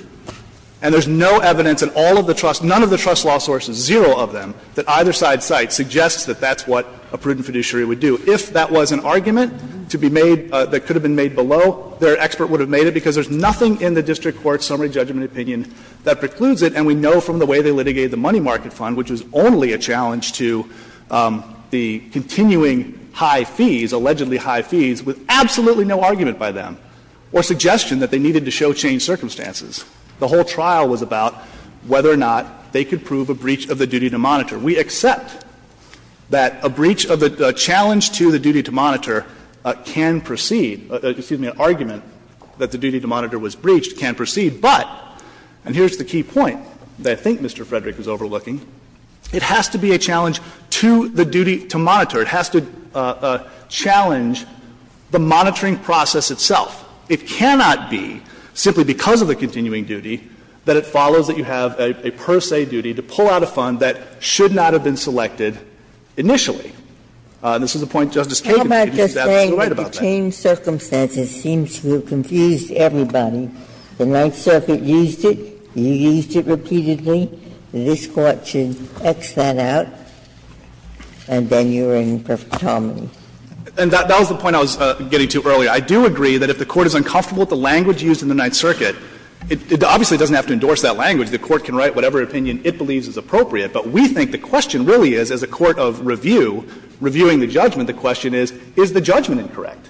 And there's no evidence in all of the trust, none of the trust law sources, zero of them, that either side's site suggests that that's what a prudent fiduciary would do. If that was an argument to be made that could have been made below, their expert would have made it because there's nothing in the district court's summary judgment opinion that precludes it. And we know from the way they litigated the money market fund, which was only a challenge to the continuing high fees, allegedly high fees, with absolutely no argument by them or suggestion that they needed to show changed circumstances. The whole trial was about whether or not they could prove a breach of the duty to monitor. We accept that a breach of a challenge to the duty to monitor can proceed, excuse me, an argument that the duty to monitor was breached can proceed. But, and here's the key point that I think Mr. Frederick is overlooking, it has to be a challenge to the duty to monitor. It has to challenge the monitoring process itself. It cannot be simply because of the continuing duty that it follows that you have a per se duty to pull out a fund that should not have been selected initially. This is a point Justice Kagan made. She's absolutely right about that. Ginsburg-Miller The changed circumstances seems to have confused everybody. The Ninth Circuit used it, you used it repeatedly, this Court should X that out, and then you're in perfect harmony. And that was the point I was getting to earlier. I do agree that if the Court is uncomfortable with the language used in the Ninth Circuit, it obviously doesn't have to endorse that language. The Court can write whatever opinion it believes is appropriate. But we think the question really is, as a court of review, reviewing the judgment, the question is, is the judgment incorrect?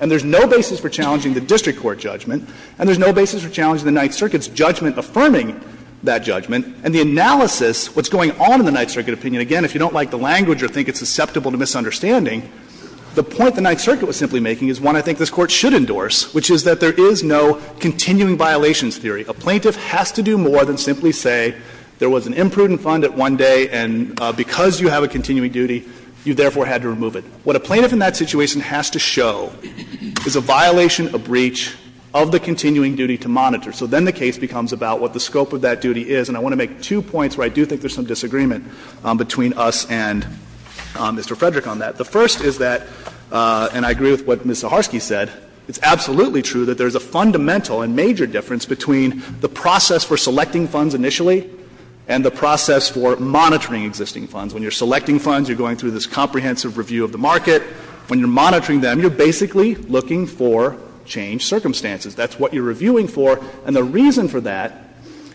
And there's no basis for challenging the district court judgment, and there's no basis for challenging the Ninth Circuit's judgment affirming that judgment. And the analysis, what's going on in the Ninth Circuit opinion, again, if you don't like the language or think it's susceptible to misunderstanding, the point the Ninth Circuit was simply making is one I think this Court should endorse, which is that there is no continuing violations theory. A plaintiff has to do more than simply say there was an imprudent fund at one day and because you have a continuing duty, you therefore had to remove it. What a plaintiff in that situation has to show is a violation, a breach of the continuing duty to monitor. So then the case becomes about what the scope of that duty is. And I want to make two points where I do think there's some disagreement between us and Mr. Frederick on that. The first is that, and I agree with what Ms. Zaharsky said, it's absolutely true that there's a fundamental and major difference between the process for selecting funds initially and the process for monitoring existing funds. When you're selecting funds, you're going through this comprehensive review of the market. When you're monitoring them, you're basically looking for changed circumstances. That's what you're reviewing for. And the reason for that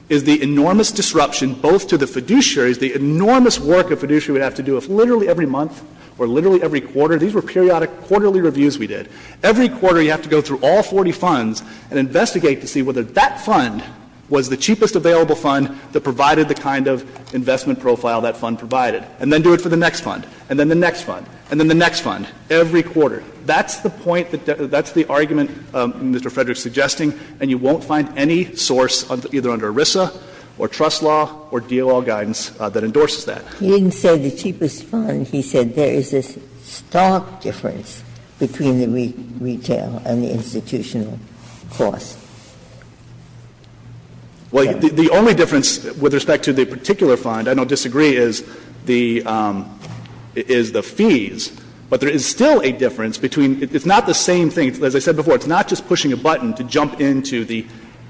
is the enormous disruption both to the fiduciaries, the enormous work a fiduciary would have to do if literally every month or literally every quarter, these were periodic quarterly reviews we did, every quarter you have to go through all 40 funds and investigate to see whether that fund was the cheapest available fund that provided the kind of investment profile that fund provided. And then do it for the next fund, and then the next fund, and then the next fund, every quarter. That's the point that the argument Mr. Frederick is suggesting, and you won't find any source either under ERISA or trust law or DOL guidance that endorses that. Ginsburg He didn't say the cheapest fund. He said there is this stark difference between the retail and the institutional cost. Well, the only difference with respect to the particular fund, I don't disagree, is the fees, but there is still a difference between — it's not the same thing. As I said before, it's not just pushing a button to jump into the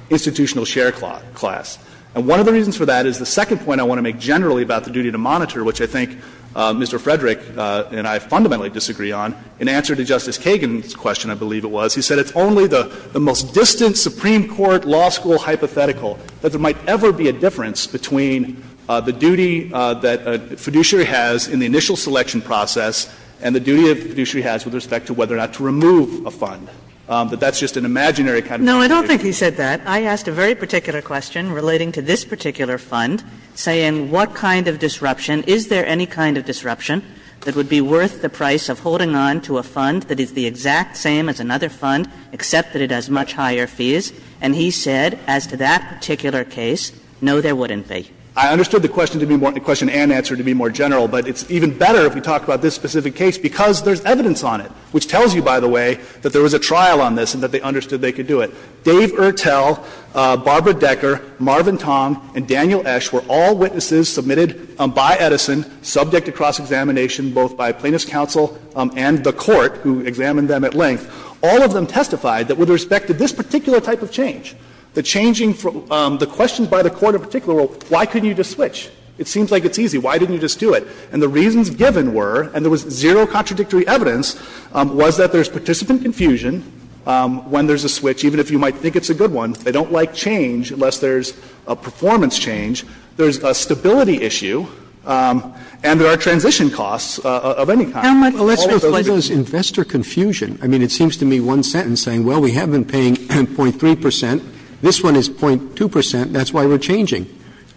institutional share class. And one of the reasons for that is the second point I want to make generally about the duty to monitor, which I think Mr. Frederick and I fundamentally disagree on. In answer to Justice Kagan's question, I believe it was, he said it's only the most distant Supreme Court law school hypothetical that there might ever be a difference between the duty that a fiduciary has in the initial selection process and the duty that the fiduciary has with respect to whether or not to remove a fund. But that's just an imaginary kind of situation. Kagan No, I don't think he said that. I asked a very particular question relating to this particular fund, saying what kind of disruption, is there any kind of disruption that would be worth the price of holding on to a fund that is the exact same as another fund, except that it has much higher fees. And he said, as to that particular case, no, there wouldn't be. I understood the question to be more, the question and answer to be more general. But it's even better if we talk about this specific case because there's evidence on it, which tells you, by the way, that there was a trial on this and that they understood they could do it. Dave Urtel, Barbara Decker, Marvin Tong, and Daniel Esch were all witnesses submitted by Edison, subject to cross-examination, both by plaintiff's counsel and the Court, who examined them at length. All of them testified that with respect to this particular type of change, the changing from the questions by the court in particular, well, why couldn't you just switch? It seems like it's easy. Why didn't you just do it? And the reasons given were, and there was zero contradictory evidence, was that there's participant confusion when there's a switch, even if you might think it's a good one. They don't like change unless there's a performance change. There's a stability issue, and there are transition costs of any kind. Roberts Let's reflect on this investor confusion. I mean, it seems to me one sentence saying, well, we have been paying 0.3 percent, this one is 0.2 percent, that's why we're changing.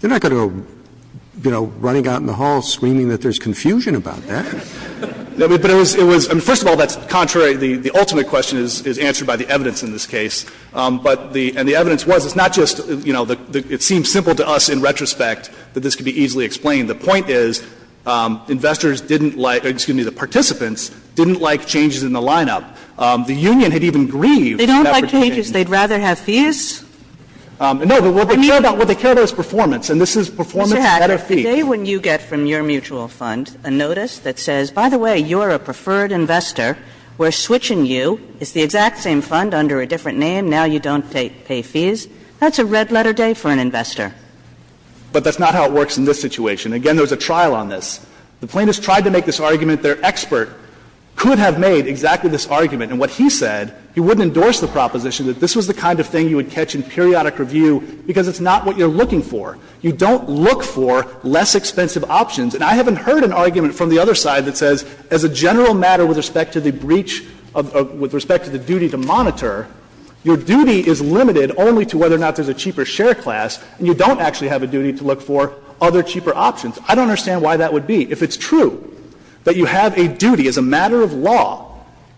They're not going to go, you know, running out in the hall screaming that there's confusion about that. But it was — it was — I mean, first of all, that's contrary. The ultimate question is answered by the evidence in this case. But the — and the evidence was it's not just, you know, it seems simple to us in retrospect that this could be easily explained. The point is, investors didn't like — or, excuse me, the participants didn't like changes in the lineup. The union had even grieved that particular change. Kagan They don't like changes, they'd rather have fees? Hacker No, but what they care about is performance, and this is performance better fees. Kagan Mr. Hacker, the day when you get from your mutual fund a notice that says, by the way, you're a preferred investor, we're switching you, it's the exact same fund under a different name, now you don't pay fees, that's a red-letter day for an investor. Hacker But that's not how it works in this situation. Again, there's a trial on this. The plaintiffs tried to make this argument. Their expert could have made exactly this argument. And what he said, he wouldn't endorse the proposition that this was the kind of thing you would catch in periodic review because it's not what you're looking for. You don't look for less expensive options. And I haven't heard an argument from the other side that says, as a general matter with respect to the breach of — with respect to the duty to monitor, your duty is limited only to whether or not there's a cheaper share class, and you don't actually have a duty to look for other cheaper options. I don't understand why that would be. If it's true that you have a duty as a matter of law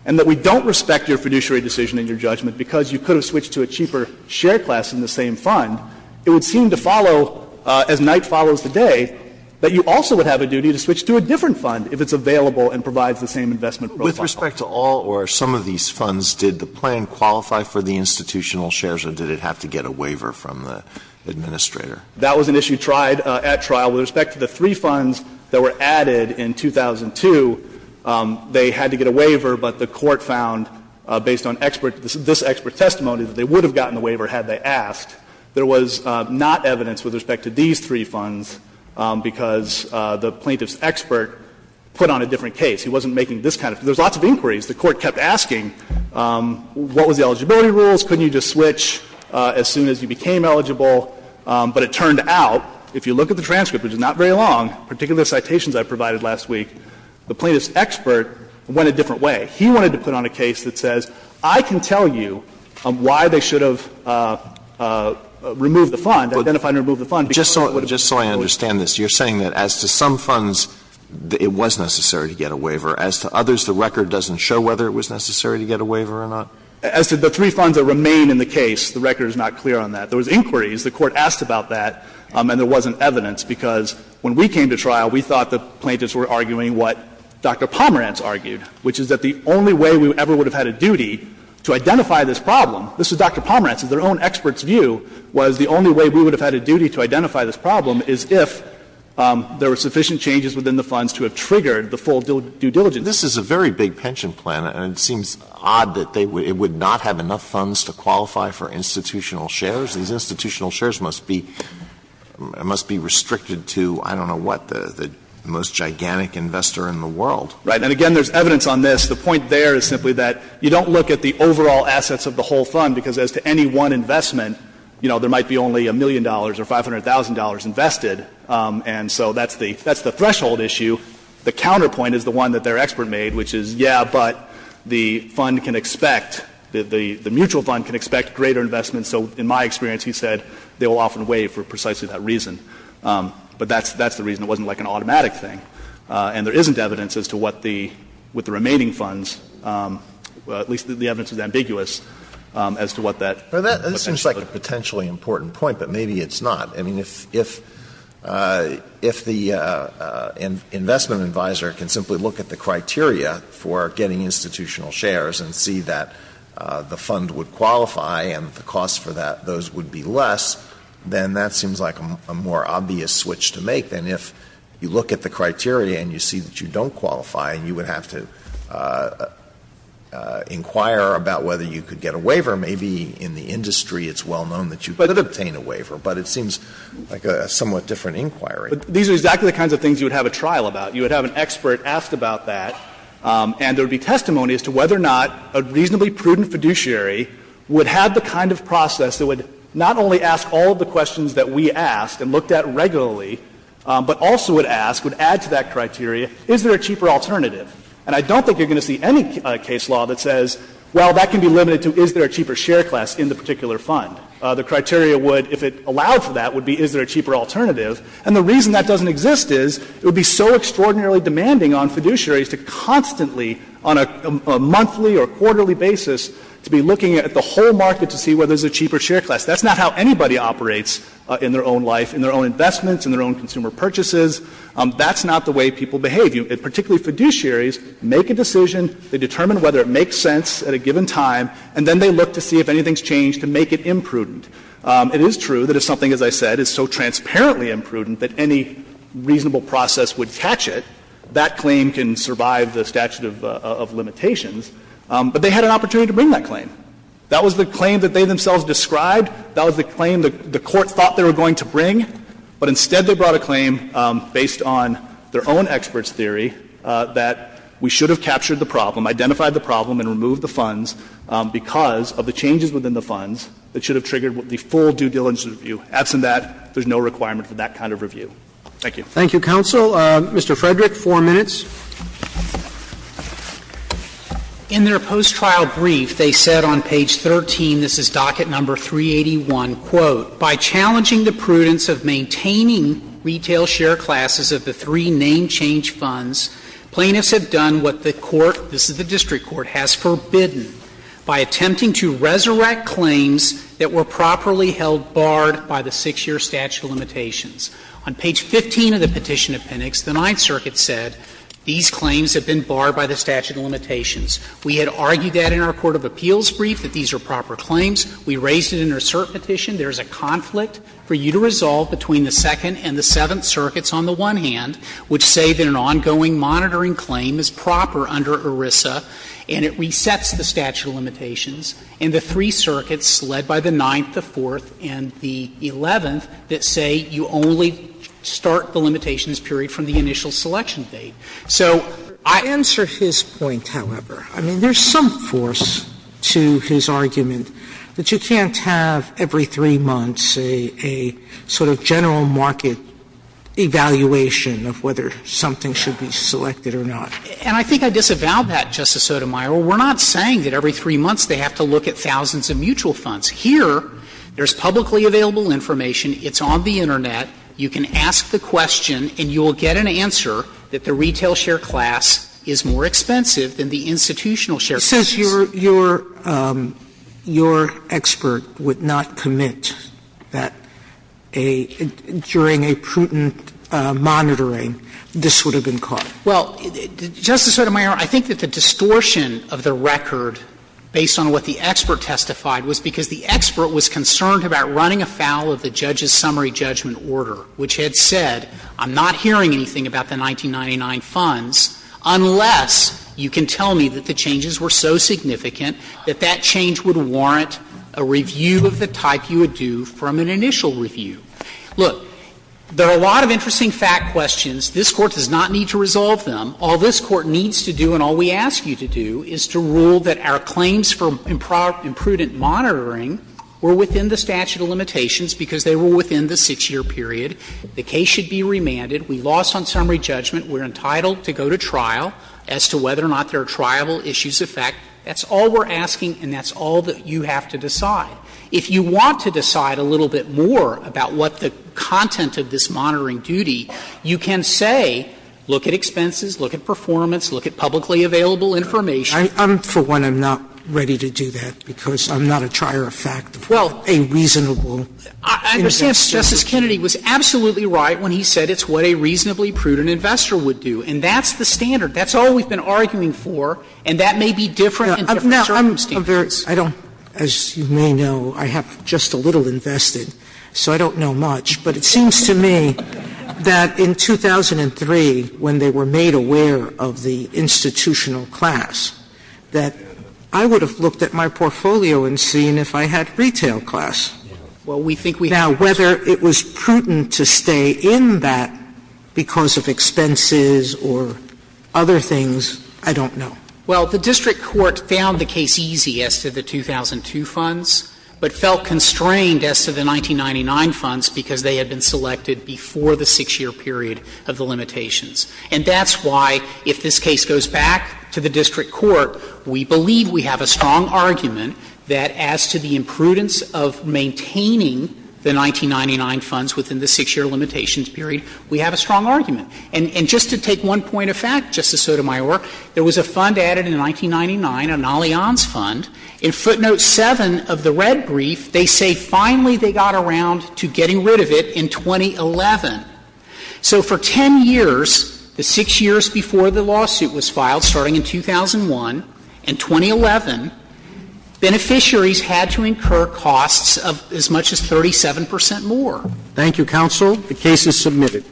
and that we don't respect your fiduciary decision and your judgment because you could have switched to a cheaper share class in the same fund, it would seem to follow, as night follows the day, that you also would have a duty to switch to a different fund if it's available and provides the same investment profile. Alito With respect to all or some of these funds, did the plan qualify for the institutional shares, or did it have to get a waiver from the administrator? That was an issue tried at trial. With respect to the three funds that were added in 2002, they had to get a waiver, but the Court found, based on expert — this expert's testimony, that they would have gotten the waiver had they asked. There was not evidence with respect to these three funds because the plaintiff's expert put on a different case. He wasn't making this kind of — there's lots of inquiries. The Court kept asking, what was the eligibility rules? Couldn't you just switch as soon as you became eligible? But it turned out, if you look at the transcript, which is not very long, particularly the citations I provided last week, the plaintiff's expert went a different way. He wanted to put on a case that says, I can tell you why they should have removed the fund, identified and removed the fund. Alito But just so I understand this, you're saying that as to some funds, it was necessary to get a waiver. As to others, the record doesn't show whether it was necessary to get a waiver or not? As to the three funds that remain in the case, the record is not clear on that. There was inquiries. The Court asked about that, and there wasn't evidence, because when we came to trial, we thought the plaintiffs were arguing what Dr. Pomerantz argued, which is that the only way we ever would have had a duty to identify this problem — this was Dr. Pomerantz — their own expert's view was the only way we would have had a duty to identify this problem is if there were sufficient changes within the funds to have triggered the full due diligence. Alito But this is a very big pension plan, and it seems odd that they would — it would not have enough funds to qualify for institutional shares. These institutional shares must be — must be restricted to, I don't know what, the most gigantic investor in the world. Pomerantz Right. And again, there's evidence on this. The point there is simply that you don't look at the overall assets of the whole fund, because as to any one investment, you know, there might be only a million dollars or $500,000 invested, and so that's the — that's the threshold issue. The counterpoint is the one that their expert made, which is, yeah, but the fund can expect — the mutual fund can expect greater investments. So in my experience, he said they will often waive for precisely that reason. But that's — that's the reason. It wasn't like an automatic thing. And there isn't evidence as to what the — with the remaining funds, at least the evidence is ambiguous as to what that — Alito Well, that seems like a potentially important point, but maybe it's not. I mean, if — if the investment advisor can simply look at the criteria for getting institutional shares and see that the fund would qualify and the cost for that, those would be less, then that seems like a more obvious switch to make than if you look at the criteria and you see that you don't qualify and you would have to inquire about whether you could get a waiver. Maybe in the industry it's well known that you could obtain a waiver, but it seems like a somewhat different inquiry. Fisher But these are exactly the kinds of things you would have a trial about. You would have an expert asked about that, and there would be testimony as to whether or not a reasonably prudent fiduciary would have the kind of process that would not only ask all of the questions that we asked and looked at regularly, but also would ask, would add to that criteria, is there a cheaper alternative. And I don't think you're going to see any case law that says, well, that can be limited to is there a cheaper share class in the particular fund. The criteria would, if it allowed for that, would be is there a cheaper alternative. And the reason that doesn't exist is it would be so extraordinarily demanding on fiduciaries to constantly, on a monthly or quarterly basis, to be looking at the whole market to see whether there's a cheaper share class. That's not how anybody operates in their own life, in their own investments, in their own consumer purchases. That's not the way people behave. Particularly fiduciaries make a decision, they determine whether it makes sense at a given time, and then they look to see if anything's changed to make it imprudent. It is true that if something, as I said, is so transparently imprudent that any reasonable process would catch it, that claim can survive the statute of limitations. But they had an opportunity to bring that claim. That was the claim that they themselves described. That was the claim the Court thought they were going to bring. But instead they brought a claim based on their own experts' theory that we should have captured the problem, identified the problem, and removed the funds because of the changes within the funds that should have triggered the full due diligence review. Absent that, there's no requirement for that kind of review. Thank you. Roberts. Thank you, counsel. Mr. Frederick, four minutes. Frederick. In their post-trial brief, they said on page 13, this is docket number 381, quote, by challenging the prudence of maintaining retail share classes of the three name change funds, plaintiffs have done what the court, this is the district court, has forbidden by attempting to resurrect claims that were properly held barred by the 6-year statute of limitations. On page 15 of the petition to Penix, the Ninth Circuit said these claims have been barred by the statute of limitations. We had argued that in our court of appeals brief, that these are proper claims. We raised it in our cert petition. There is a conflict for you to resolve between the Second and the Seventh Circuits on the one hand, which say that an ongoing monitoring claim is proper under ERISA and it resets the statute of limitations, and the three circuits, led by the Ninth, the Fourth, and the Eleventh, that say you only start the limitations period from the initial selection date. So I answer his point, however. I mean, there's some force to his argument that you can't have every 3 months a sort of general market evaluation of whether something should be selected or not. And I think I disavow that, Justice Sotomayor. We're not saying that every 3 months they have to look at thousands of mutual funds. Here, there's publicly available information, it's on the Internet, you can ask the question and you will get an answer that the retail share class is more expensive than the institutional share class. Sotomayor, it says your expert would not commit that during a prudent monitoring this would have been caught. Well, Justice Sotomayor, I think that the distortion of the record, based on what the expert testified, was because the expert was concerned about running afoul of the judge's summary judgment order, which had said, I'm not hearing anything about the that that change would warrant a review of the type you would do from an initial review. Look, there are a lot of interesting fact questions. This Court does not need to resolve them. All this Court needs to do and all we ask you to do is to rule that our claims for imprudent monitoring were within the statute of limitations because they were within the 6-year period. The case should be remanded. We lost on summary judgment. We're entitled to go to trial as to whether or not there are triable issues of fact. That's all we're asking and that's all that you have to decide. If you want to decide a little bit more about what the content of this monitoring duty, you can say, look at expenses, look at performance, look at publicly available information. I'm, for one, I'm not ready to do that because I'm not a trier of fact of what a reasonable investor would say. Well, I understand Justice Kennedy was absolutely right when he said it's what a reasonably prudent investor would do. And that's the standard. That's all we've been arguing for and that may be different in different circumstances. Sotomayor, I don't, as you may know, I have just a little invested, so I don't know much, but it seems to me that in 2003, when they were made aware of the institutional class, that I would have looked at my portfolio and seen if I had retail class. And I don't know if that was because of expenses or other things. I don't know. Well, the district court found the case easy as to the 2002 funds, but felt constrained as to the 1999 funds because they had been selected before the 6-year period of the limitations. And that's why, if this case goes back to the district court, we believe we have a strong argument that as to the imprudence of maintaining the 1999 funds within the 6-year limitations period, we have a strong argument. And just to take one point of fact, Justice Sotomayor, there was a fund added in 1999, an Allianz fund. In footnote 7 of the red brief, they say finally they got around to getting rid of it in 2011. So for 10 years, the 6 years before the lawsuit was filed, starting in 2001, in 2011, beneficiaries had to incur costs of as much as 37 percent more. Thank you, counsel. The case is submitted.